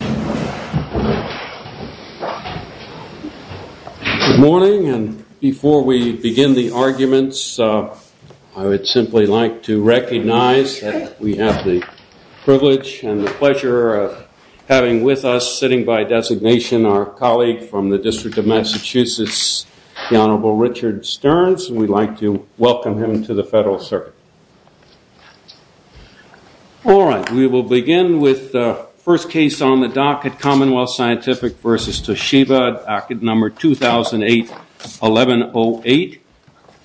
Good morning, and before we begin the arguments, I would simply like to recognize that we have the privilege and the pleasure of having with us, sitting by designation, our colleague from the District of Massachusetts, the Honorable Richard Stearns, and we'd like to welcome him to the Federal Circuit. All right, we will begin with the first case on the docket, Commonwealth Scientific v. Toshiba, docket number 2008-1108,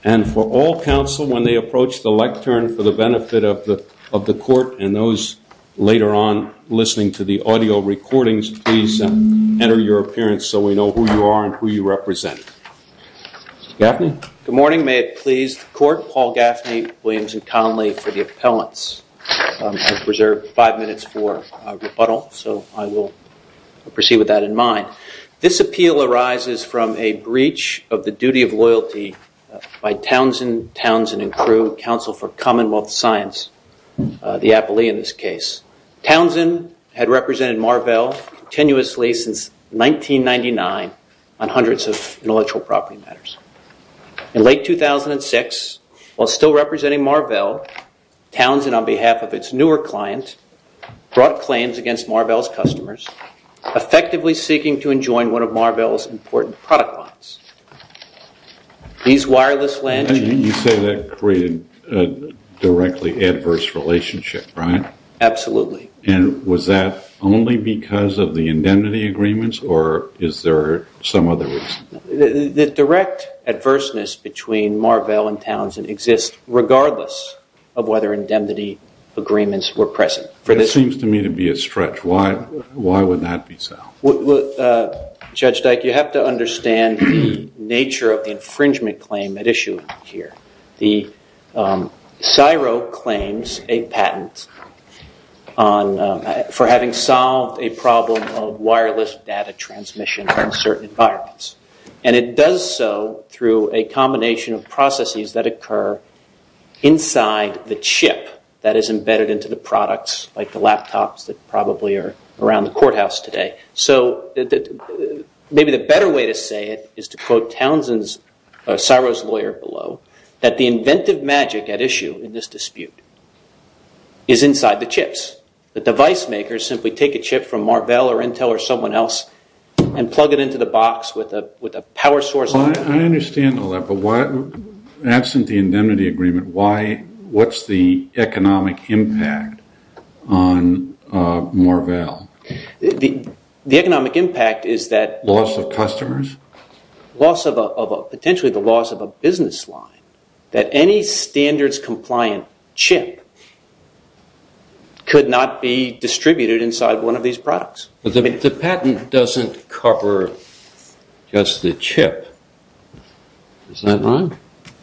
and for all counsel, when they approach the lectern, for the benefit of the court and those later on listening to the audio recordings, please enter your appearance so we know who you are and who you represent. Mr. Gaffney? Good morning, may it please the court, Paul Gaffney, Williams, and Conley for the appellants. I've reserved five minutes for rebuttal, so I will proceed with that in mind. This appeal arises from a breach of the duty of loyalty by Townsend, Townsend & Crew, Council for Commonwealth Science, the appellee in this case. Townsend had represented Marvell tenuously since 1999 on hundreds of intellectual property matters. In late 2006, while still representing Marvell, Townsend, on behalf of its newer client, brought claims against Marvell's customers, effectively seeking to enjoin one of Marvell's important product lines. You say that created a directly adverse relationship, right? Absolutely. And was that only because of the indemnity agreements or is there some other reason? The direct adverseness between Marvell and Townsend exists regardless of whether indemnity agreements were present. It seems to me to be a stretch. Why would that be so? Judge Dyke, you have to understand the nature of the infringement claim at issue here. CSIRO claims a patent for having solved a problem of wireless data transmission in certain environments. And it does so through a combination of processes that occur inside the chip that is embedded into the products, like the laptops that probably are around the courthouse today. So maybe the better way to say it is to quote Townsend's, CSIRO's lawyer below, that the inventive magic at issue in this dispute is inside the chips. The device makers simply take a chip from Marvell or Intel or someone else and plug it into the box with a power source on it. I understand all that, but absent the indemnity agreement, what's the economic impact on Marvell? The economic impact is that... Loss of customers? Potentially the loss of a business line. That any standards compliant chip could not be distributed inside one of these products. But the patent doesn't cover just the chip, is that right?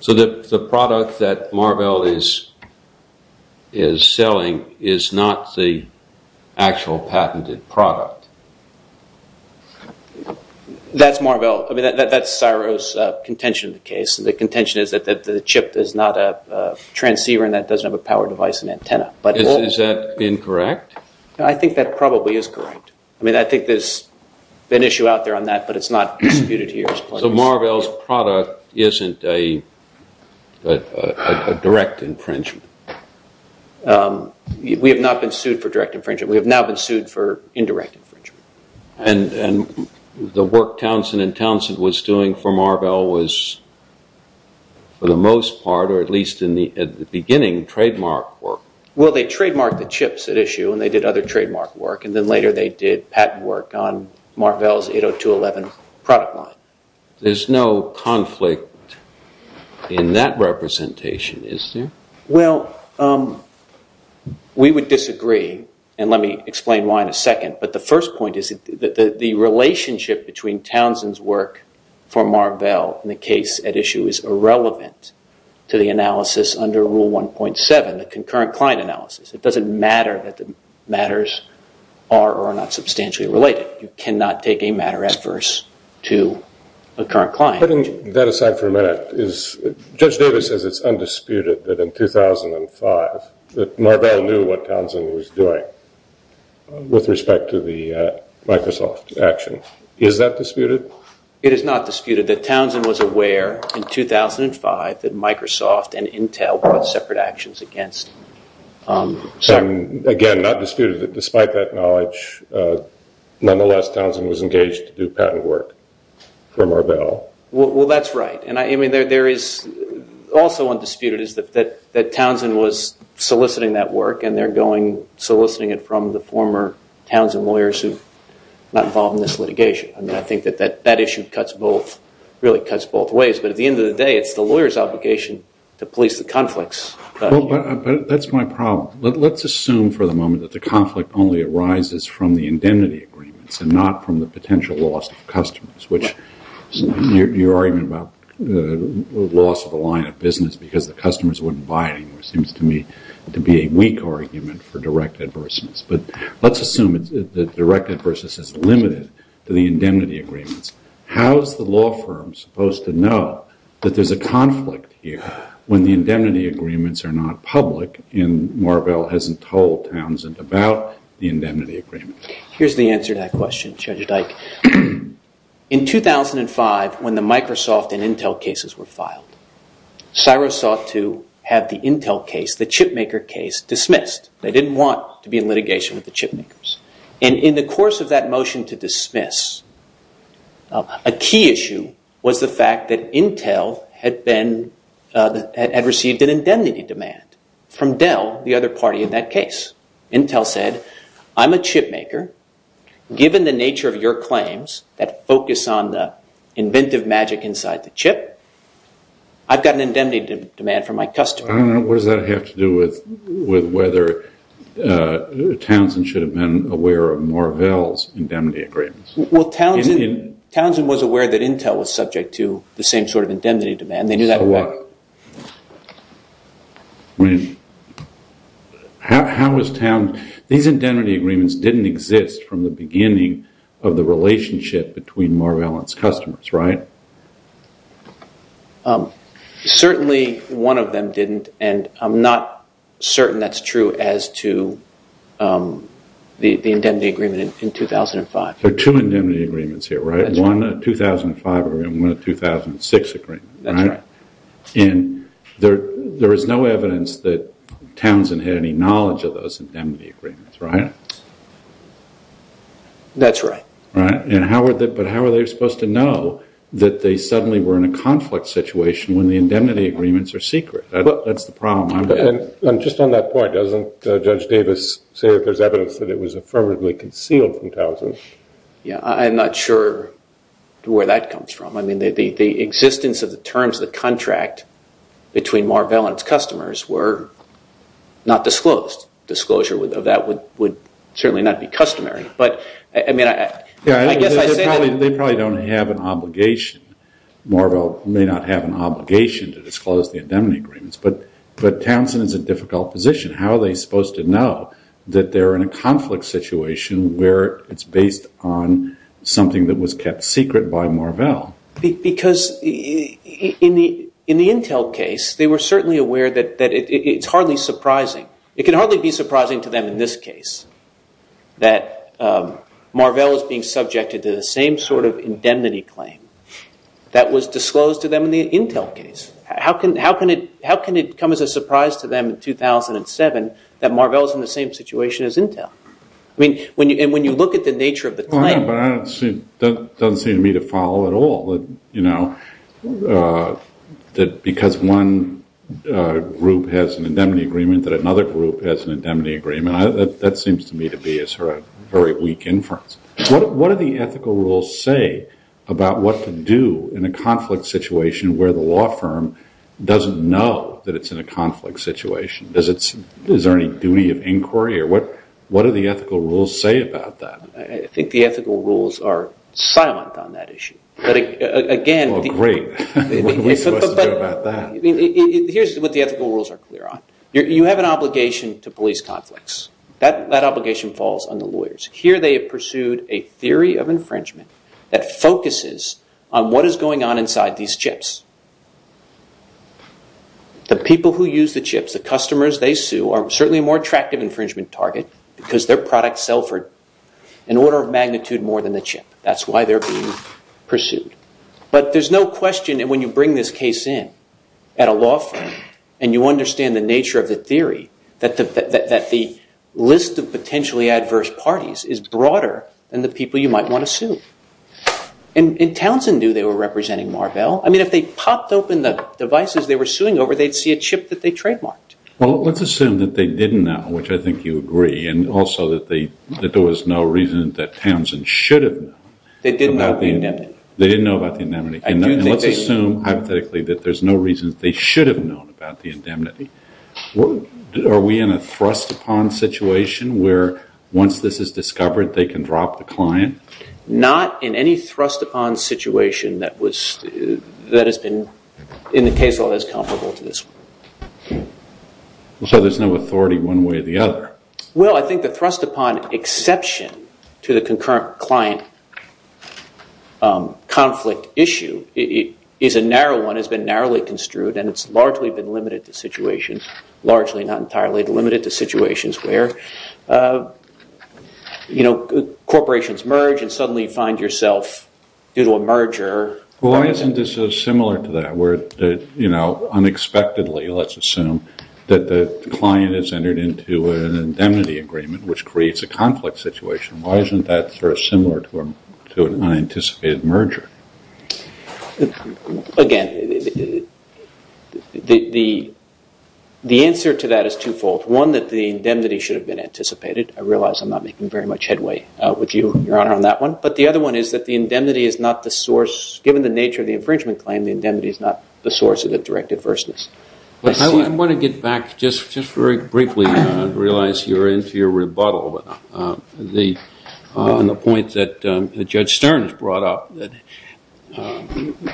So the product that Marvell is selling is not the actual patented product? That's Marvell, that's CSIRO's contention of the case. The contention is that the chip is not a transceiver and that it doesn't have a power device and antenna. Is that incorrect? I think that probably is correct. I think there's an issue out there on that, but it's not disputed here. So Marvell's product isn't a direct infringement? We have not been sued for direct infringement. We have now been sued for indirect infringement. And the work Townsend and Townsend was doing for Marvell was, for the most part, or at least in the beginning, trademark work? Well, they trademarked the chips at issue and they did other trademark work. And then later they did patent work on Marvell's 80211 product line. There's no conflict in that representation, is there? Well, we would disagree, and let me explain why in a second. But the first point is that the relationship between Townsend's work for Marvell and the case at issue is irrelevant to the analysis under Rule 1.7. The concurrent client analysis, it doesn't matter that the matters are or are not substantially related. You cannot take a matter adverse to a current client. Putting that aside for a minute, Judge Davis says it's undisputed that in 2005 Marvell knew what Townsend was doing with respect to the Microsoft action. Is that disputed? It is not disputed that Townsend was aware in 2005 that Microsoft and Intel brought separate actions against him. Again, not disputed that despite that knowledge, nonetheless, Townsend was engaged to do patent work for Marvell. Well, that's right. Also undisputed is that Townsend was soliciting that work and they're soliciting it from the former Townsend lawyers who are not involved in this litigation. I mean, I think that that issue cuts both, really cuts both ways. But at the end of the day, it's the lawyer's obligation to police the conflicts. Well, but that's my problem. Let's assume for the moment that the conflict only arises from the indemnity agreements and not from the potential loss of customers, which your argument about the loss of the line of business because the customers wouldn't buy anymore seems to me to be a weak argument for direct adversities. But let's assume that direct adversities is limited to the indemnity agreements. How is the law firm supposed to know that there's a conflict here when the indemnity agreements are not public and Marvell hasn't told Townsend about the indemnity agreement? Here's the answer to that question, Judge Dyke. In 2005, when the Microsoft and Intel cases were filed, CSIRO sought to have the Intel case, the chipmaker case, dismissed. They didn't want to be in litigation with the chipmakers. And in the course of that motion to dismiss, a key issue was the fact that Intel had received an indemnity demand from Dell, the other party in that case. Intel said, I'm a chipmaker. Given the nature of your claims that focus on the inventive magic inside the chip, I've got an indemnity demand from my customer. What does that have to do with whether Townsend should have been aware of Marvell's indemnity agreements? Well, Townsend was aware that Intel was subject to the same sort of indemnity demand. These indemnity agreements didn't exist from the beginning of the relationship between Marvell and its customers, right? Certainly, one of them didn't and I'm not certain that's true as to the indemnity agreement in 2005. There are two indemnity agreements here, right? One in 2005 and one in 2006, right? That's right. And there is no evidence that Townsend had any knowledge of those indemnity agreements, right? That's right. But how are they supposed to know that they suddenly were in a conflict situation when the indemnity agreements are secret? That's the problem. And just on that point, doesn't Judge Davis say that there's evidence that it was affirmatively concealed from Townsend? Yeah, I'm not sure where that comes from. I mean, the existence of the terms of the contract between Marvell and its customers were not disclosed. Disclosure of that would certainly not be customary. They probably don't have an obligation. Marvell may not have an obligation to disclose the indemnity agreements, but Townsend is in a difficult position. How are they supposed to know that they're in a conflict situation where it's based on something that was kept secret by Marvell? Because in the Intel case, they were certainly aware that it's hardly surprising. It can hardly be surprising to them in this case that Marvell is being subjected to the same sort of indemnity claim that was disclosed to them in the Intel case. How can it come as a surprise to them in 2007 that Marvell is in the same situation as Intel? And when you look at the nature of the claim... That seems to me to be a very weak inference. What do the ethical rules say about what to do in a conflict situation where the law firm doesn't know that it's in a conflict situation? Is there any duty of inquiry? What do the ethical rules say about that? I think the ethical rules are silent on that issue. Well, great. What are we supposed to do about that? Here's what the ethical rules are clear on. You have an obligation to police conflicts. That obligation falls on the lawyers. Here they have pursued a theory of infringement that focuses on what is going on inside these chips. The people who use the chips, the customers they sue, are certainly a more attractive infringement target because their products sell for an order of magnitude more than the chip. That's why they're being pursued. But there's no question that when you bring this case in at a law firm and you understand the nature of the theory that the list of potentially adverse parties is broader than the people you might want to sue. And Townsend knew they were representing Marvell. I mean, if they popped open the devices they were suing over, they'd see a chip that they trademarked. Well, let's assume that they didn't know, which I think you agree, and also that there was no reason that Townsend should have known. They didn't know about the indemnity. They didn't know about the indemnity. And let's assume, hypothetically, that there's no reason they should have known about the indemnity. Are we in a thrust-upon situation where once this is discovered they can drop the client? Not in any thrust-upon situation that has been in the case law as comparable to this one. So there's no authority one way or the other. Well, I think the thrust-upon exception to the concurrent client conflict issue is a narrow one, has been narrowly construed, and it's largely been limited to situations where corporations merge and suddenly you find yourself due to a merger. Well, why isn't this similar to that, where unexpectedly, let's assume, that the client has entered into an indemnity agreement, which creates a conflict situation. Why isn't that sort of similar to an unanticipated merger? Again, the answer to that is twofold. One, that the indemnity should have been anticipated. I realize I'm not making very much headway with you, Your Honour, on that one. But the other one is that the indemnity is not the source, given the nature of the infringement claim, the indemnity is not the source of the direct adverseness. I want to get back, just very briefly, I realize you're into your rebuttal on the point that Judge Stern has brought up.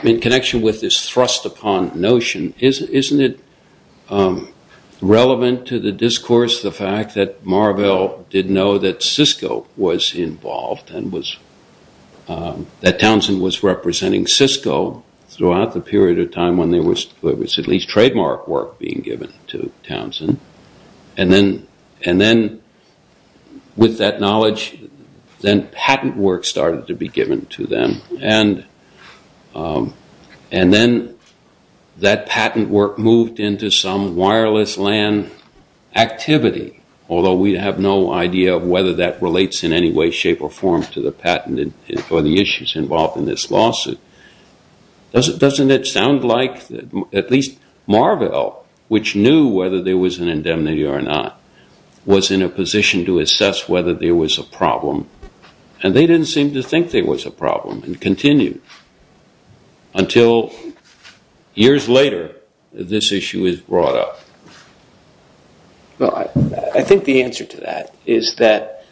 In connection with this thrust-upon notion, isn't it relevant to the discourse, the fact that Marvell did know that Cisco was involved and that Townsend was representing Cisco throughout the period of time when there was at least trademark work being given to Townsend. And then, with that knowledge, then patent work started to be given to them. And then that patent work moved into some wireless LAN activity, although we have no idea whether that relates in any way, shape or form to the patent or the issues involved in this lawsuit. Doesn't it sound like, at least Marvell, which knew whether there was an indemnity or not, was in a position to assess whether there was a problem. And they didn't seem to think there was a problem and continued until years later this issue was brought up. Well, I think the answer to that is that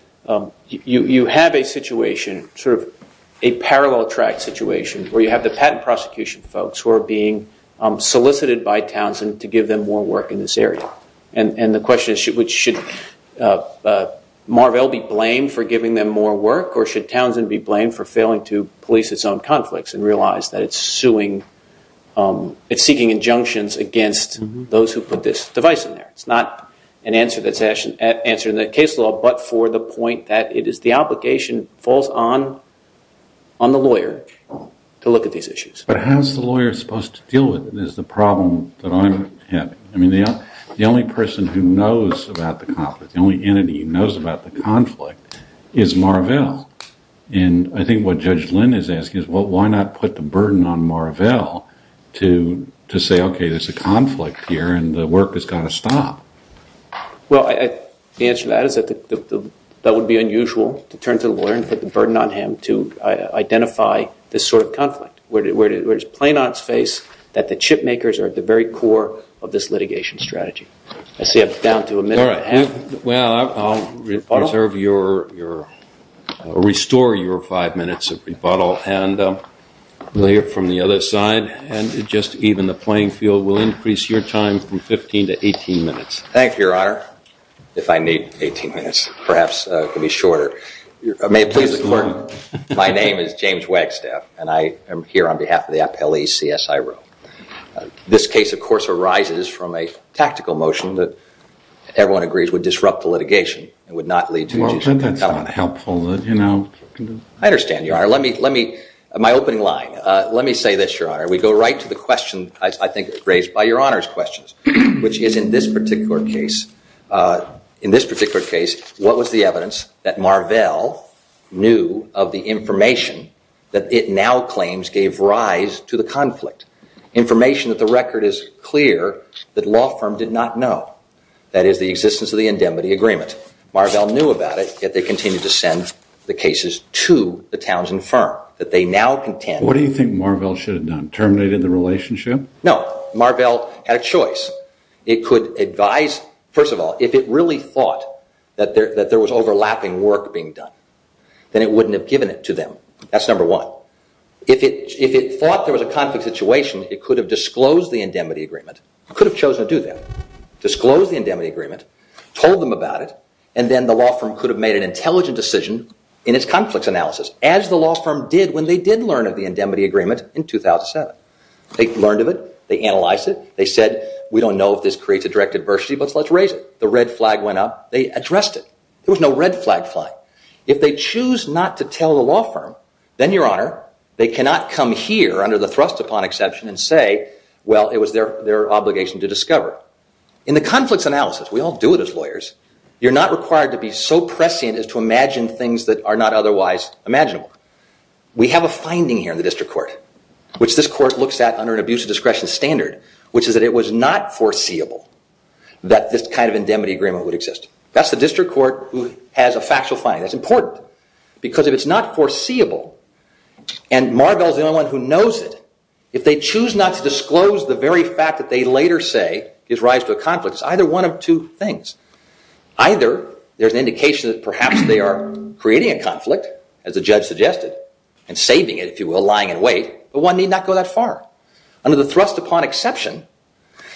you have a situation, sort of a parallel track situation, where you have the patent prosecution folks who are being solicited by Townsend to give them more work in this area. And the question is, should Marvell be blamed for giving them more work or should Townsend be blamed for failing to police its own conflicts and realize that it's suing, it's seeking injunctions against those who put this device in there. It's not an answer that's answered in the case law, but for the point that it is the obligation falls on the lawyer to look at these issues. But how's the lawyer supposed to deal with it is the problem that I'm having. I mean, the only person who knows about the conflict, the only entity who knows about the conflict, is Marvell. And I think what Judge Lynn is asking is, well, why not put the burden on Marvell to say, okay, there's a conflict here and the work has got to stop? Well, the answer to that is that that would be unusual to turn to the lawyer and put the burden on him to identify this sort of conflict. Where it's plain on its face that the chip makers are at the very core of this litigation strategy. I see I'm down to a minute and a half. Well, I'll restore your five minutes of rebuttal and lay it from the other side and just even the playing field will increase your time from 15 to 18 minutes. Thank you, Your Honor. My name is James Wagstaff, and I am here on behalf of the appellee CSIRO. This case, of course, arises from a tactical motion that everyone agrees would disrupt the litigation and would not lead to- Well, then that's not helpful. I understand, Your Honor. My opening line, let me say this, Your Honor. We go right to the question, I think, raised by Your Honor's questions, which is, in this particular case, what was the evidence that Marvell knew of the information that it now claims gave rise to the conflict? Information that the record is clear that law firm did not know. That is, the existence of the indemnity agreement. Marvell knew about it, yet they continued to send the cases to the Townsend firm. That they now contend- What do you think Marvell should have done? Terminated the relationship? No. Marvell had a choice. It could advise- First of all, if it really thought that there was overlapping work being done, then it wouldn't have given it to them. That's number one. If it thought there was a conflict situation, it could have disclosed the indemnity agreement. It could have chosen to do that. Disclose the indemnity agreement, told them about it, and then the law firm could have made an intelligent decision in its conflict analysis, as the law firm did when they did learn of the indemnity agreement in 2007. They learned of it. They analyzed it. They said, we don't know if this creates a direct adversity, but let's raise it. The red flag went up. They addressed it. There was no red flag flying. If they choose not to tell the law firm, then, Your Honor, they cannot come here under the thrust upon exception and say, well, it was their obligation to discover. In the conflicts analysis, we all do it as lawyers. You're not required to be so prescient as to imagine things that are not otherwise imaginable. We have a finding here in the district court, which this court looks at under an abuse of discretion standard, which is that it was not foreseeable that this kind of indemnity agreement would exist. That's the district court who has a factual finding. That's important, because if it's not foreseeable, and Marvell's the only one who knows it, if they choose not to disclose the very fact that they later say gives rise to a conflict, it's either one of two things. Either there's an indication that perhaps they are creating a conflict, as the judge suggested, and saving it, if you will, lying in wait, but one need not go that far. Under the thrust upon exception,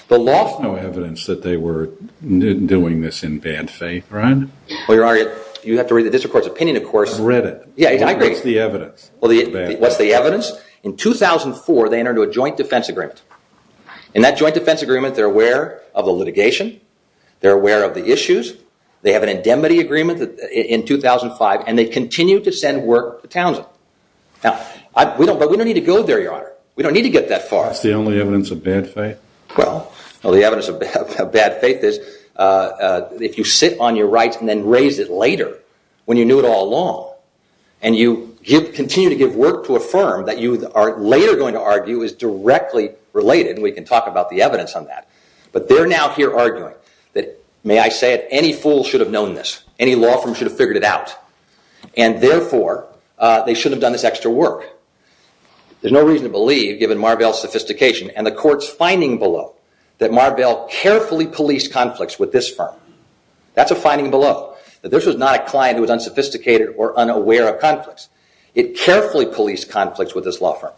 the law… There's no evidence that they were doing this in bad faith, right? Well, Your Honor, you have to read the district court's opinion, of course. I've read it. Yeah, I agree. What's the evidence? What's the evidence? In 2004, they entered into a joint defense agreement. In that joint defense agreement, they're aware of the litigation. They're aware of the issues. They have an indemnity agreement in 2005, and they continue to send work to Townsend. Now, we don't need to go there, Your Honor. We don't need to get that far. It's the only evidence of bad faith? Well, the evidence of bad faith is if you sit on your rights and then raise it later, when you knew it all along, and you continue to give work to a firm that you are later going to argue is directly related, and we can talk about the evidence on that. But they're now here arguing that, may I say it, any fool should have known this. Any law firm should have figured it out. And therefore, they shouldn't have done this extra work. There's no reason to believe, given Marvell's sophistication and the court's finding below, that Marvell carefully policed conflicts with this firm. That's a finding below, that this was not a client who was unsophisticated or unaware of conflicts. It carefully policed conflicts with this law firm.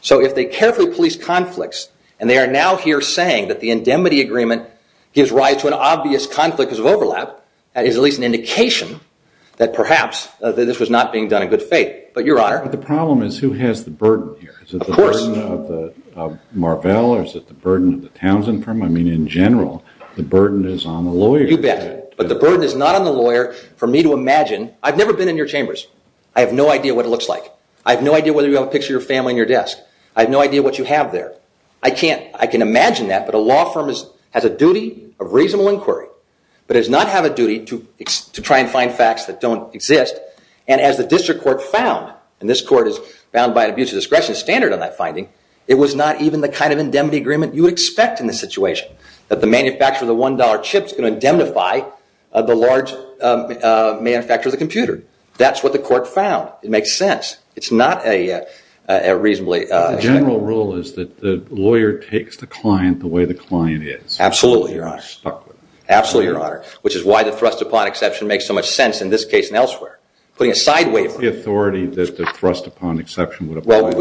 So if they carefully policed conflicts, and they are now here saying that the indemnity agreement gives rise to an obvious conflict because of overlap, that is at least an indication that perhaps this was not being done in good faith. But, Your Honor— But the problem is who has the burden here? Of course. Is it the burden of Marvell, or is it the burden of the Townsend firm? I mean, in general, the burden is on the lawyer. You bet. But the burden is not on the lawyer. For me to imagine—I've never been in your chambers. I have no idea what it looks like. I have no idea whether you have a picture of your family on your desk. I have no idea what you have there. I can imagine that, but a law firm has a duty of reasonable inquiry, but does not have a duty to try and find facts that don't exist. And as the district court found, and this court is bound by an abuse of discretion standard on that finding, it was not even the kind of indemnity agreement you would expect in this situation, that the manufacturer of the $1 chip is going to indemnify the large manufacturer of the computer. That's what the court found. It makes sense. It's not a reasonably— But the general rule is that the lawyer takes the client the way the client is. Absolutely, Your Honor. Absolutely, Your Honor, which is why the thrust upon exception makes so much sense in this case and elsewhere. Putting it sideways— What's the authority that the thrust upon exception would apply? Well,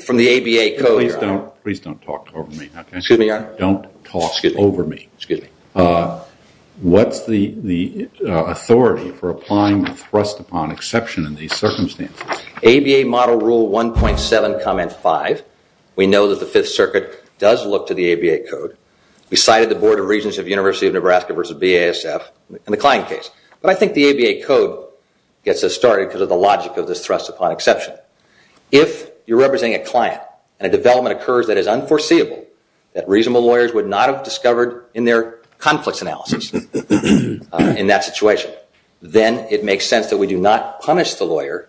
from the ABA code— Please don't talk over me. Excuse me, Your Honor. Don't talk over me. Excuse me. What's the authority for applying the thrust upon exception in these circumstances? ABA model rule 1.7, comment 5. We know that the Fifth Circuit does look to the ABA code. We cited the Board of Regents of the University of Nebraska versus BASF in the client case. But I think the ABA code gets us started because of the logic of this thrust upon exception. If you're representing a client and a development occurs that is unforeseeable, that reasonable lawyers would not have discovered in their conflicts analysis in that situation, then it makes sense that we do not punish the lawyer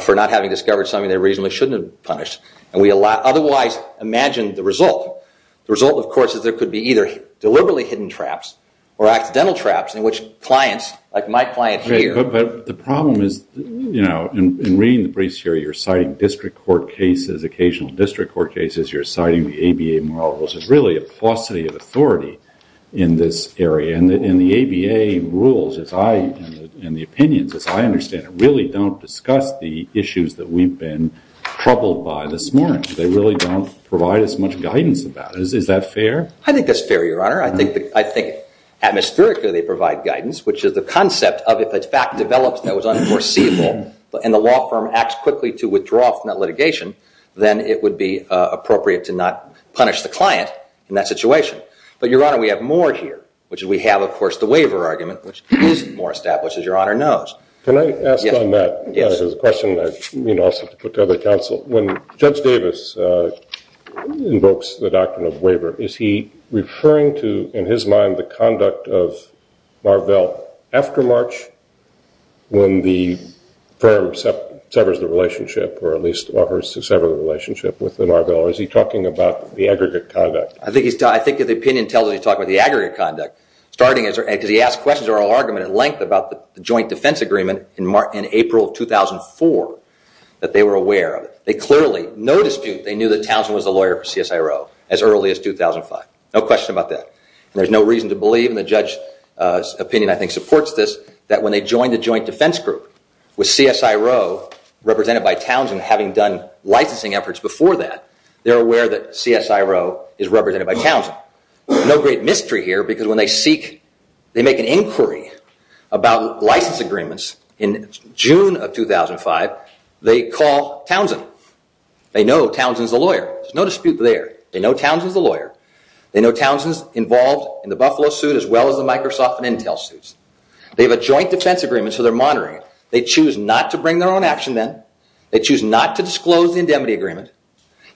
for not having discovered something they reasonably shouldn't have punished. And we otherwise imagine the result. The result, of course, is there could be either deliberately hidden traps or accidental traps in which clients, like my client here— But the problem is, you know, in reading the briefs here, you're citing district court cases, occasional district court cases. You're citing the ABA model rules. There's really a paucity of authority in this area. And the ABA rules and the opinions, as I understand it, really don't discuss the issues that we've been troubled by this morning. They really don't provide as much guidance about it. Is that fair? I think that's fair, Your Honor. I think, atmospherically, they provide guidance, which is the concept of if a fact develops that was unforeseeable and the law firm acts quickly to withdraw from that litigation, then it would be appropriate to not punish the client in that situation. But, Your Honor, we have more here, which is we have, of course, the waiver argument, which is more established, as Your Honor knows. Can I ask on that? Yes. This is a question that I also have to put to other counsel. When Judge Davis invokes the doctrine of waiver, is he referring to, in his mind, the conduct of Marvell after March when the firm severs the relationship, or at least offers to sever the relationship with Marvell? Or is he talking about the aggregate conduct? I think the opinion tells us he's talking about the aggregate conduct, starting as he asks questions or an argument at length about the joint defense agreement in April of 2004 that they were aware of. They clearly, no dispute, they knew that Townsend was the lawyer for CSIRO as early as 2005. No question about that. And there's no reason to believe, and the judge's opinion, I think, supports this, that when they join the joint defense group with CSIRO represented by Townsend having done licensing efforts before that, they're aware that CSIRO is represented by Townsend. No great mystery here, because when they seek, they make an inquiry about license agreements in June of 2005, they call Townsend. They know Townsend's the lawyer. There's no dispute there. They know Townsend's the lawyer. They know Townsend's involved in the Buffalo suit as well as the Microsoft and Intel suits. They have a joint defense agreement, so they're monitoring it. They choose not to bring their own action in. They choose not to disclose the indemnity agreement.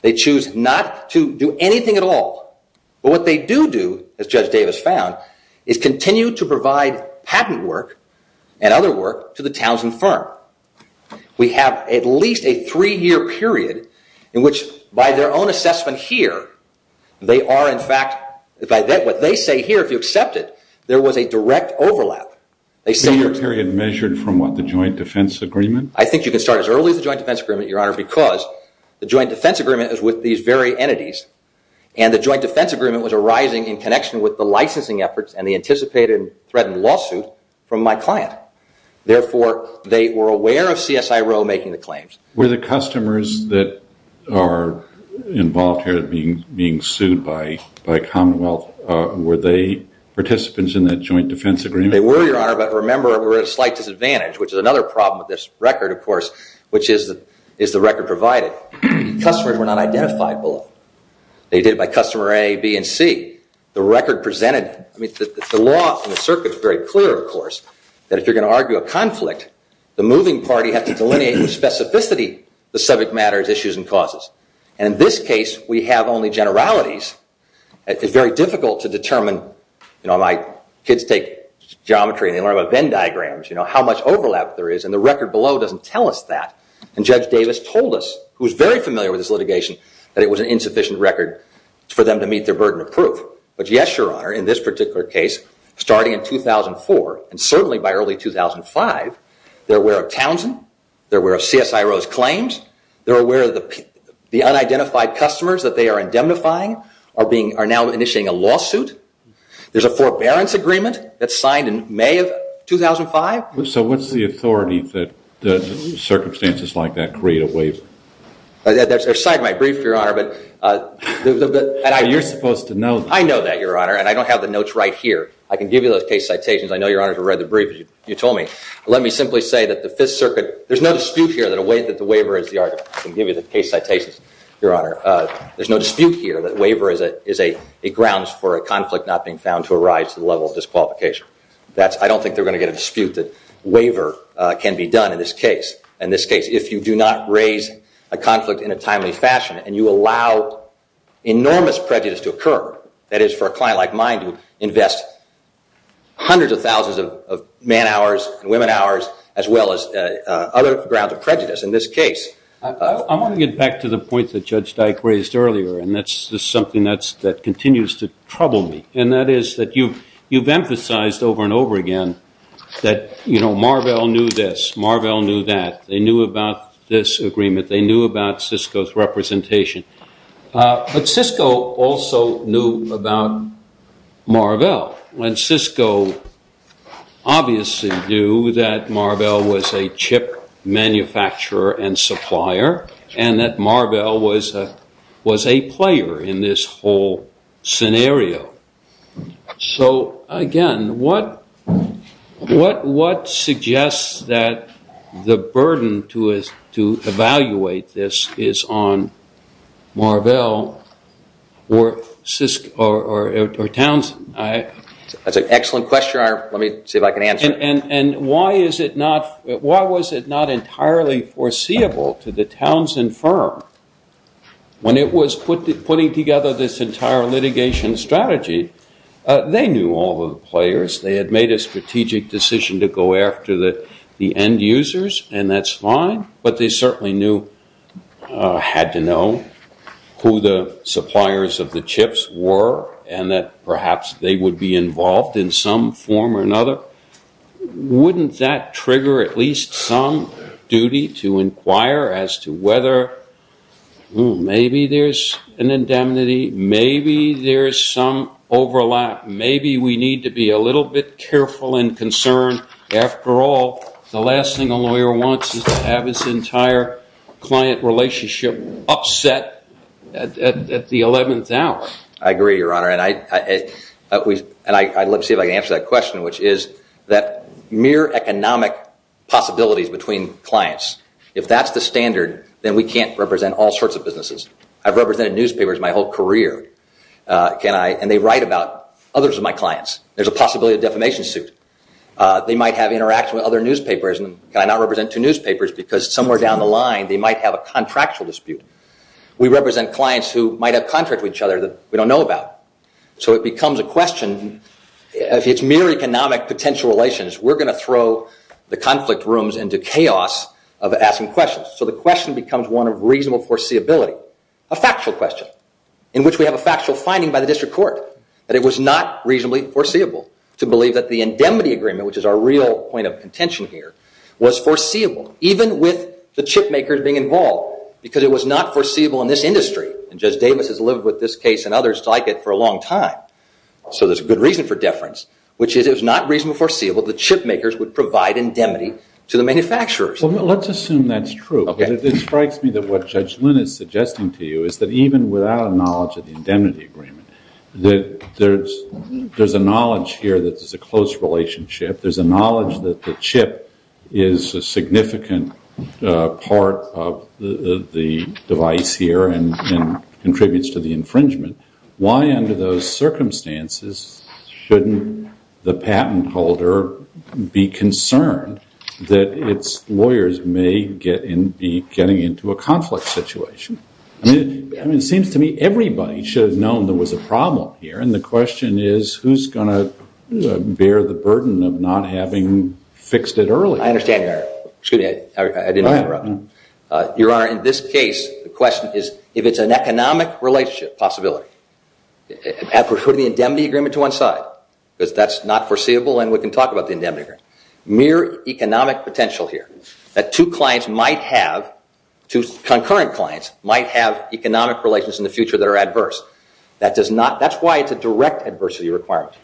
They choose not to do anything at all. But what they do do, as Judge Davis found, is continue to provide patent work and other work to the Townsend firm. We have at least a three-year period in which, by their own assessment here, they are, in fact, by what they say here, if you accept it, there was a direct overlap. A three-year period measured from what, the joint defense agreement? I think you can start as early as the joint defense agreement, Your Honor, because the joint defense agreement is with these very entities, and the joint defense agreement was arising in connection with the licensing efforts and the anticipated threat and lawsuit from my client. Therefore, they were aware of CSIRO making the claims. Were the customers that are involved here being sued by Commonwealth, were they participants in that joint defense agreement? They were, Your Honor, but remember, they were at a slight disadvantage, which is another problem with this record, of course, which is the record provided. Customers were not identified below. They did it by customer A, B, and C. The law in the circuit is very clear, of course, that if you're going to argue a conflict, the moving party has to delineate the specificity of the subject matter as issues and causes. In this case, we have only generalities. It's very difficult to determine. My kids take geometry, and they learn about Venn diagrams, how much overlap there is, and the record below doesn't tell us that. Judge Davis told us, who is very familiar with this litigation, that it was an insufficient record for them to meet their burden of proof. But yes, Your Honor, in this particular case, starting in 2004, and certainly by early 2005, they're aware of Townsend. They're aware of CSIRO's claims. They're aware of the unidentified customers that they are indemnifying are now initiating a lawsuit. There's a forbearance agreement that's signed in May of 2005. So what's the authority that circumstances like that create a waiver? There's a side of my brief, Your Honor. You're supposed to know that. I know that, Your Honor, and I don't have the notes right here. I can give you those case citations. I know Your Honor has read the brief, as you told me. Let me simply say that the Fifth Circuit, there's no dispute here that the waiver is the argument. I can give you the case citations, Your Honor. There's no dispute here that waiver is a grounds for a conflict not being found to arise to the level of disqualification. I don't think they're going to get a dispute that waiver can be done in this case. In this case, if you do not raise a conflict in a timely fashion and you allow enormous prejudice to occur, that is for a client like mine to invest hundreds of thousands of man hours and women hours, as well as other grounds of prejudice in this case. I want to get back to the point that Judge Dyke raised earlier, and that's something that continues to trouble me. And that is that you've emphasized over and over again that Marvell knew this. Marvell knew that. They knew about this agreement. They knew about Cisco's representation. But Cisco also knew about Marvell. Well, when Cisco obviously knew that Marvell was a chip manufacturer and supplier, and that Marvell was a player in this whole scenario. So again, what suggests that the burden to evaluate this is on Marvell or Cisco or Townsend? That's an excellent question. Let me see if I can answer it. Why was it not entirely foreseeable to the Townsend firm when it was putting together this entire litigation strategy? They knew all of the players. They had made a strategic decision to go after the end users, and that's fine. But they certainly knew, had to know, who the suppliers of the chips were, and that perhaps they would be involved in some form or another. Wouldn't that trigger at least some duty to inquire as to whether maybe there's an indemnity? Maybe there's some overlap. Maybe we need to be a little bit careful and concerned. After all, the last thing a lawyer wants is to have his entire client relationship upset at the 11th hour. I agree, Your Honor. And let me see if I can answer that question, which is that mere economic possibilities between clients, if that's the standard, then we can't represent all sorts of businesses. I've represented newspapers my whole career, and they write about others of my clients. There's a possibility of a defamation suit. They might have interaction with other newspapers. And can I not represent two newspapers? Because somewhere down the line, they might have a contractual dispute. We represent clients who might have contracts with each other that we don't know about. So it becomes a question. If it's mere economic potential relations, we're going to throw the conflict rooms into chaos of asking questions. So the question becomes one of reasonable foreseeability, a factual question, in which we have a factual finding by the district court that it was not reasonably foreseeable to believe that the indemnity agreement, which is our real point of contention here, was foreseeable, even with the chip makers being involved, because it was not foreseeable in this industry. And Judge Davis has lived with this case and others like it for a long time. So there's a good reason for deference, which is it was not reasonably foreseeable that chip makers would provide indemnity to the manufacturers. Well, let's assume that's true. It strikes me that what Judge Lynn is suggesting to you is that even without a knowledge of the indemnity agreement, that there's a knowledge here that there's a close relationship. There's a knowledge that the chip is a significant part of the device here and contributes to the infringement. Why under those circumstances shouldn't the patent holder be concerned that its lawyers may be getting into a conflict situation? I mean, it seems to me everybody should have known there was a problem here. And the question is, who's going to bear the burden of not having fixed it earlier? I understand, Your Honor. Excuse me, I didn't mean to interrupt. Your Honor, in this case, the question is, if it's an economic relationship possibility, have we put the indemnity agreement to one side? Because that's not foreseeable and we can talk about the indemnity agreement. Mere economic potential here. That two concurrent clients might have economic relations in the future that are adverse. That's why it's a direct adversity requirement.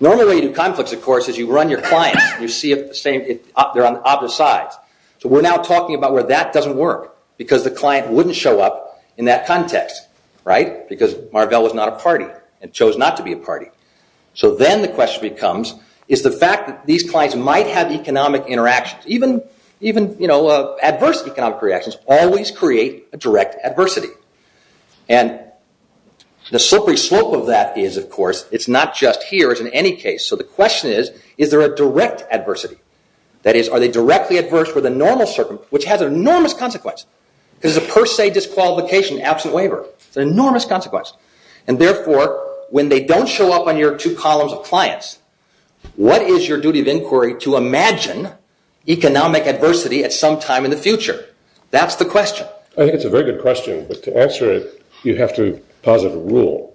Normally when you do conflicts, of course, is you run your clients and you see they're on opposite sides. So we're now talking about where that doesn't work because the client wouldn't show up in that context, right? Because Marvell was not a party and chose not to be a party. So then the question becomes, is the fact that these clients might have economic interactions, even adverse economic reactions, always create a direct adversity. And the slippery slope of that is, of course, it's not just here, it's in any case. So the question is, is there a direct adversity? That is, are they directly adverse for the normal circumstance, which has an enormous consequence. Because it's a per se disqualification, absent waiver. It's an enormous consequence. And therefore, when they don't show up on your two columns of clients, what is your duty of inquiry to imagine economic adversity at some time in the future? That's the question. I think it's a very good question. But to answer it, you have to posit a rule.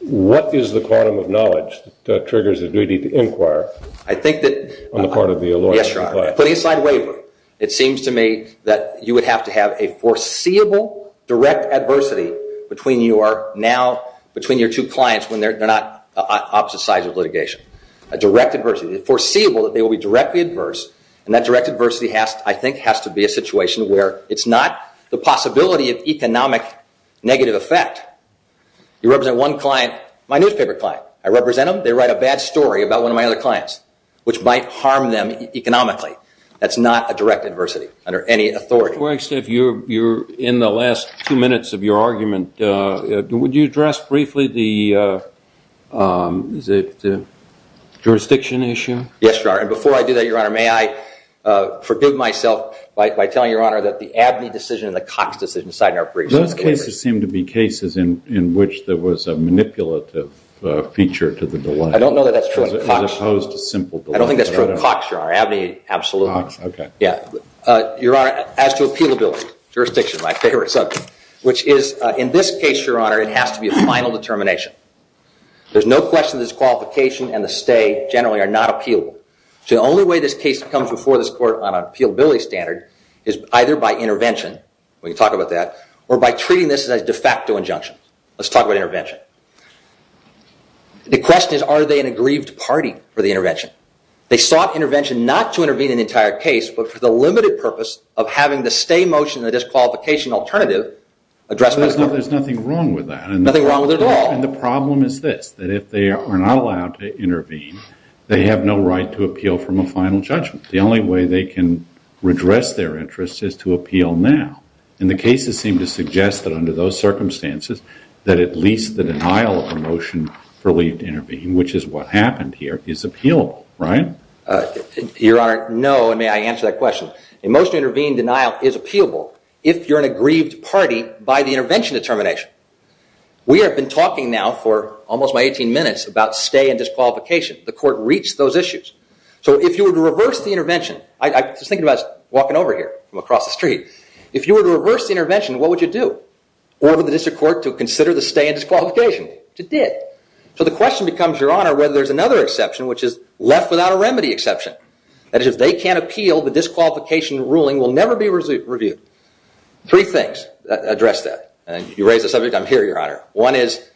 What is the quantum of knowledge that triggers the duty to inquire on the part of the lawyer? Yes, Your Honor. Putting aside waiver, it seems to me that you would have to have a foreseeable direct adversity between your two clients when they're not opposite sides of litigation. A direct adversity. It's foreseeable that they will be directly adverse. And that direct adversity, I think, has to be a situation where it's not the possibility of economic negative effect. You represent one client, my newspaper client. I represent them. They write a bad story about one of my other clients, which might harm them economically. That's not a direct adversity under any authority. Mr. Quirkstaff, you're in the last two minutes of your argument. Would you address briefly the jurisdiction issue? Yes, Your Honor. And before I do that, Your Honor, may I forbid myself by telling Your Honor that the Abney decision and the Cox decision side in our briefs. Those cases seem to be cases in which there was a manipulative feature to the delay. I don't know that that's true in Cox. As opposed to simple delay. I don't think that's true in Cox, Your Honor. Abney, absolutely. Cox. Okay. Your Honor, as to appealability, jurisdiction is my favorite subject, which is, in this case, Your Honor, it has to be a final determination. There's no question that this qualification and the stay generally are not appealable. The only way this case comes before this court on an appealability standard is either by intervention, we can talk about that, or by treating this as a de facto injunction. Let's talk about intervention. The question is, are they an aggrieved party for the intervention? They sought intervention not to intervene in the entire case, but for the limited purpose of having the stay motion and the disqualification alternative addressed by the court. There's nothing wrong with that. Nothing wrong with it at all. And the problem is this, that if they are not allowed to intervene, they have no right to appeal from a final judgment. The only way they can redress their interest is to appeal now. And the cases seem to suggest that under those circumstances, that at least the denial of a motion for leave to intervene, which is what happened here, is appealable, right? Your Honor, no, and may I answer that question? A motion to intervene denial is appealable if you're an aggrieved party by the intervention determination. We have been talking now for almost my 18 minutes about stay and disqualification. The court reached those issues. So if you were to reverse the intervention, I was just thinking about walking over here from across the street. If you were to reverse the intervention, what would you do? Order the district court to consider the stay and disqualification, which it did. So the question becomes, Your Honor, whether there's another exception, which is left without a remedy exception. That is, if they can't appeal, the disqualification ruling will never be reviewed. Three things address that. You raised the subject, I'm here, Your Honor. One is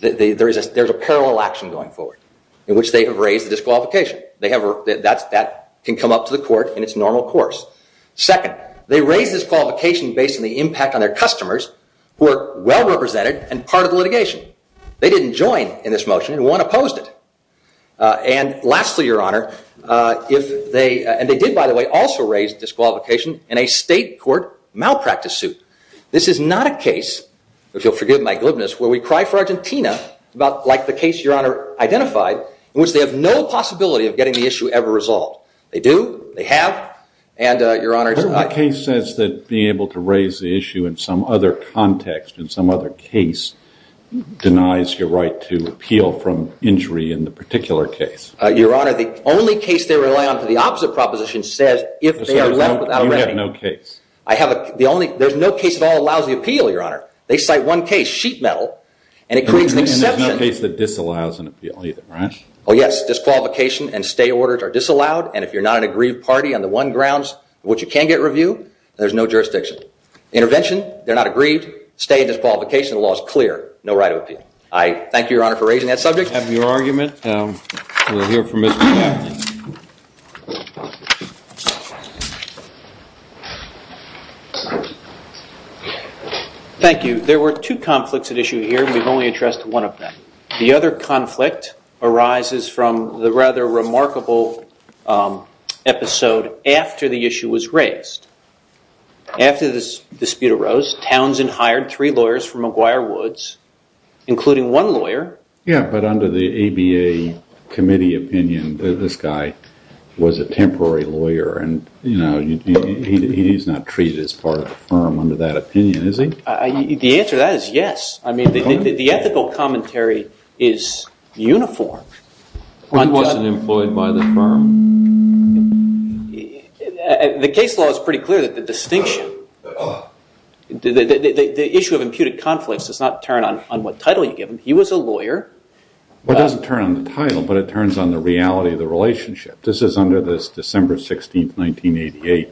there's a parallel action going forward in which they have raised the disqualification. That can come up to the court in its normal course. Second, they raised this qualification based on the impact on their customers who are well represented and part of the litigation. They didn't join in this motion, and one opposed it. And lastly, Your Honor, and they did, by the way, also raise disqualification in a state court malpractice suit. This is not a case, if you'll forgive my glibness, where we cry for Argentina, like the case Your Honor identified, in which they have no possibility of getting the issue ever resolved. They do, they have, and Your Honor, it's not. What case says that being able to raise the issue in some other context, in some other case, denies your right to appeal from injury in the particular case? Your Honor, the only case they rely on for the opposite proposition says if they are left without a remedy. You have no case? There's no case at all that allows the appeal, Your Honor. They cite one case, Sheet Metal, and it creates an exception. And there's no case that disallows an appeal either, right? Oh yes, disqualification and stay orders are disallowed, and if you're not an aggrieved party on the one grounds in which you can get review, there's no jurisdiction. Intervention, they're not aggrieved. Stay and disqualification, the law is clear. No right to appeal. I thank you, Your Honor, for raising that subject. We have your argument, and we'll hear from Mr. Knapp. Thank you. There were two conflicts at issue here, and we've only addressed one of them. The other conflict arises from the rather remarkable episode after the issue was raised. After this dispute arose, Townsend hired three lawyers from McGuire Woods, including one lawyer. Yeah, but under the ABA committee opinion, this guy was a temporary lawyer, and he's not treated as part of the firm under that opinion, is he? The answer to that is yes. I mean, the ethical commentary is uniform. He wasn't employed by the firm. The case law is pretty clear that the distinction, the issue of imputed conflicts does not turn on what title you give him. He was a lawyer. Well, it doesn't turn on the title, but it turns on the reality of the relationship. This is under this December 16, 1988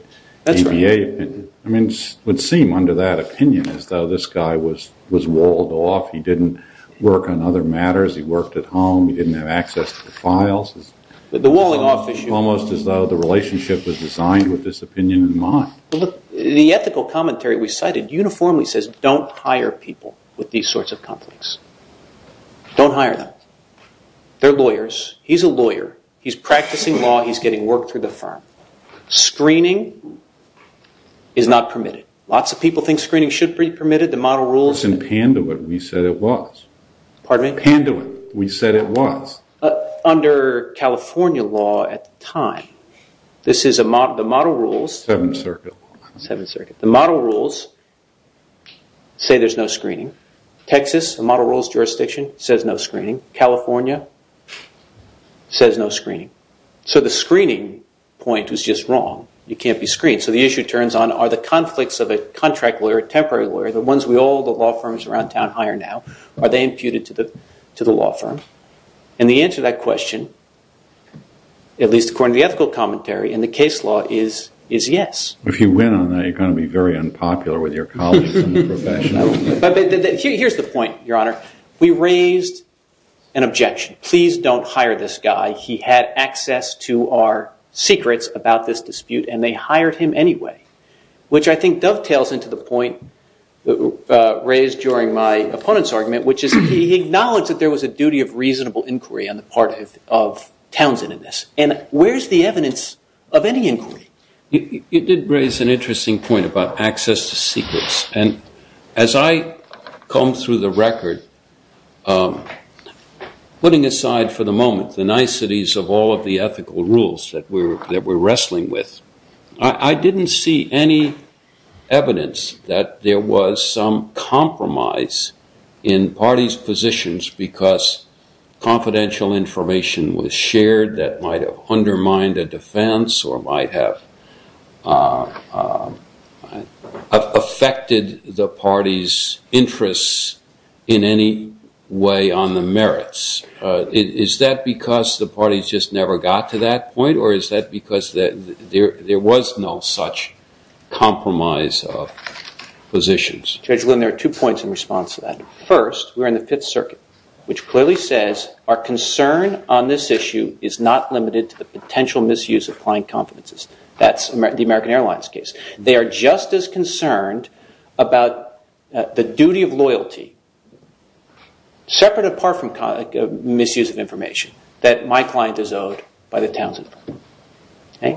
ABA opinion. I mean, it would seem under that opinion as though this guy was walled off. He didn't work on other matters. He worked at home. He didn't have access to the files. The walling off issue. Almost as though the relationship was designed with this opinion in mind. Well, look, the ethical commentary we cited uniformly says don't hire people with these sorts of conflicts. Don't hire them. They're lawyers. He's a lawyer. He's practicing law. He's getting work through the firm. Screening is not permitted. Lots of people think screening should be permitted. The model rules. In Panduit, we said it was. Pardon me? Panduit, we said it was. Under California law at the time, this is the model rules. 7th Circuit. 7th Circuit. The model rules say there's no screening. Texas, the model rules jurisdiction, says no screening. California says no screening. So the screening point was just wrong. You can't be screened. So the issue turns on are the conflicts of a contract lawyer, temporary lawyer, the ones we all, the law firms around town hire now, are they imputed to the law firm? And the answer to that question, at least according to the ethical commentary in the case law, is yes. If you win on that, you're going to be very unpopular with your colleagues in the profession. Here's the point, Your Honor. We raised an objection. Please don't hire this guy. He had access to our secrets about this dispute, and they hired him anyway, which I think dovetails into the point raised during my opponent's argument, which is he acknowledged that there was a duty of reasonable inquiry on the part of Townsend in this. And where's the evidence of any inquiry? You did raise an interesting point about access to secrets. And as I comb through the record, putting aside for the moment the niceties of all of the ethical rules that we're wrestling with, I didn't see any evidence that there was some compromise in parties' positions because confidential information was shared that might have undermined a defense or might have affected the party's interests in any way on the merits. Is that because the parties just never got to that point, or is that because there was no such compromise of positions? Judge Lynn, there are two points in response to that. First, we're in the Fifth Circuit, which clearly says our concern on this issue is not limited to the potential misuse of client confidences. That's the American Airlines case. They are just as concerned about the duty of loyalty, separate apart from misuse of information, that my client is owed by the Townsend firm. I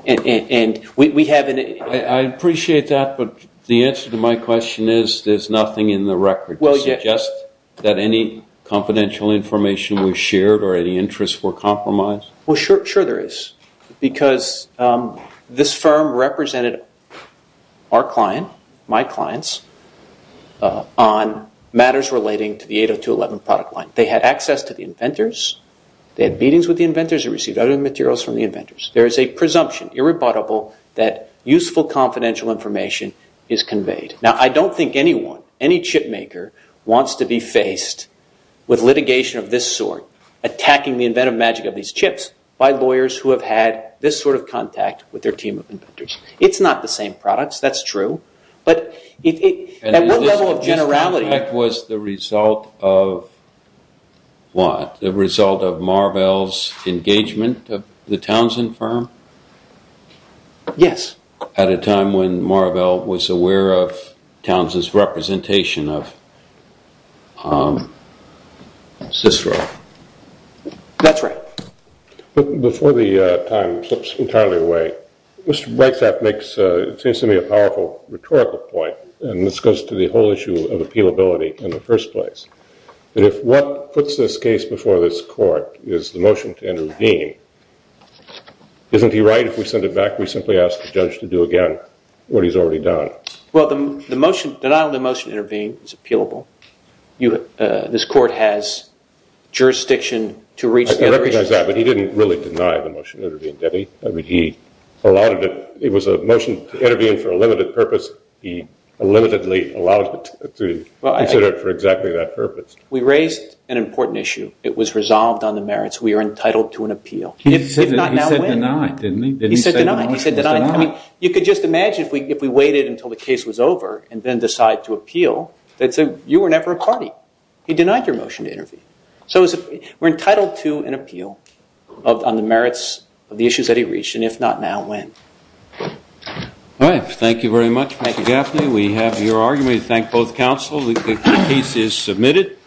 appreciate that, but the answer to my question is there's nothing in the record to suggest that any confidential information was shared or any interests were compromised. Well, sure there is, because this firm represented our client, my clients, on matters relating to the 802.11 product line. They had access to the inventors. They had meetings with the inventors. They received other materials from the inventors. There is a presumption, irrebuttable, that useful confidential information is conveyed. Now, I don't think anyone, any chip maker, wants to be faced with litigation of this sort, attacking the inventive magic of these chips, by lawyers who have had this sort of contact with their team of inventors. It's not the same products, that's true, but at what level of generality... And this contact was the result of what? The result of Marvell's engagement of the Townsend firm? Yes. At a time when Marvell was aware of Townsend's representation of Cicero. That's right. Before the time slips entirely away, Mr. Breitschaft makes, it seems to me, a powerful rhetorical point, and this goes to the whole issue of appealability in the first place. And if what puts this case before this court is the motion to intervene, isn't he right if we send it back, we simply ask the judge to do again what he's already done? Well, the motion, denial of the motion to intervene is appealable. This court has jurisdiction to reach... I recognize that, but he didn't really deny the motion to intervene, did he? He allowed it, it was a motion to intervene for a limited purpose. He limitedly allowed it to be considered for exactly that purpose. We raised an important issue. It was resolved on the merits. We are entitled to an appeal. If not now, when? He said deny, didn't he? He said deny. I mean, you could just imagine if we waited until the case was over and then decide to appeal, they'd say, you were never a party. He denied your motion to intervene. So we're entitled to an appeal on the merits of the issues that he reached, and if not now, when? All right. Thank you very much, Mr. Gaffney. We have your argument. We thank both counsel. The case is submitted.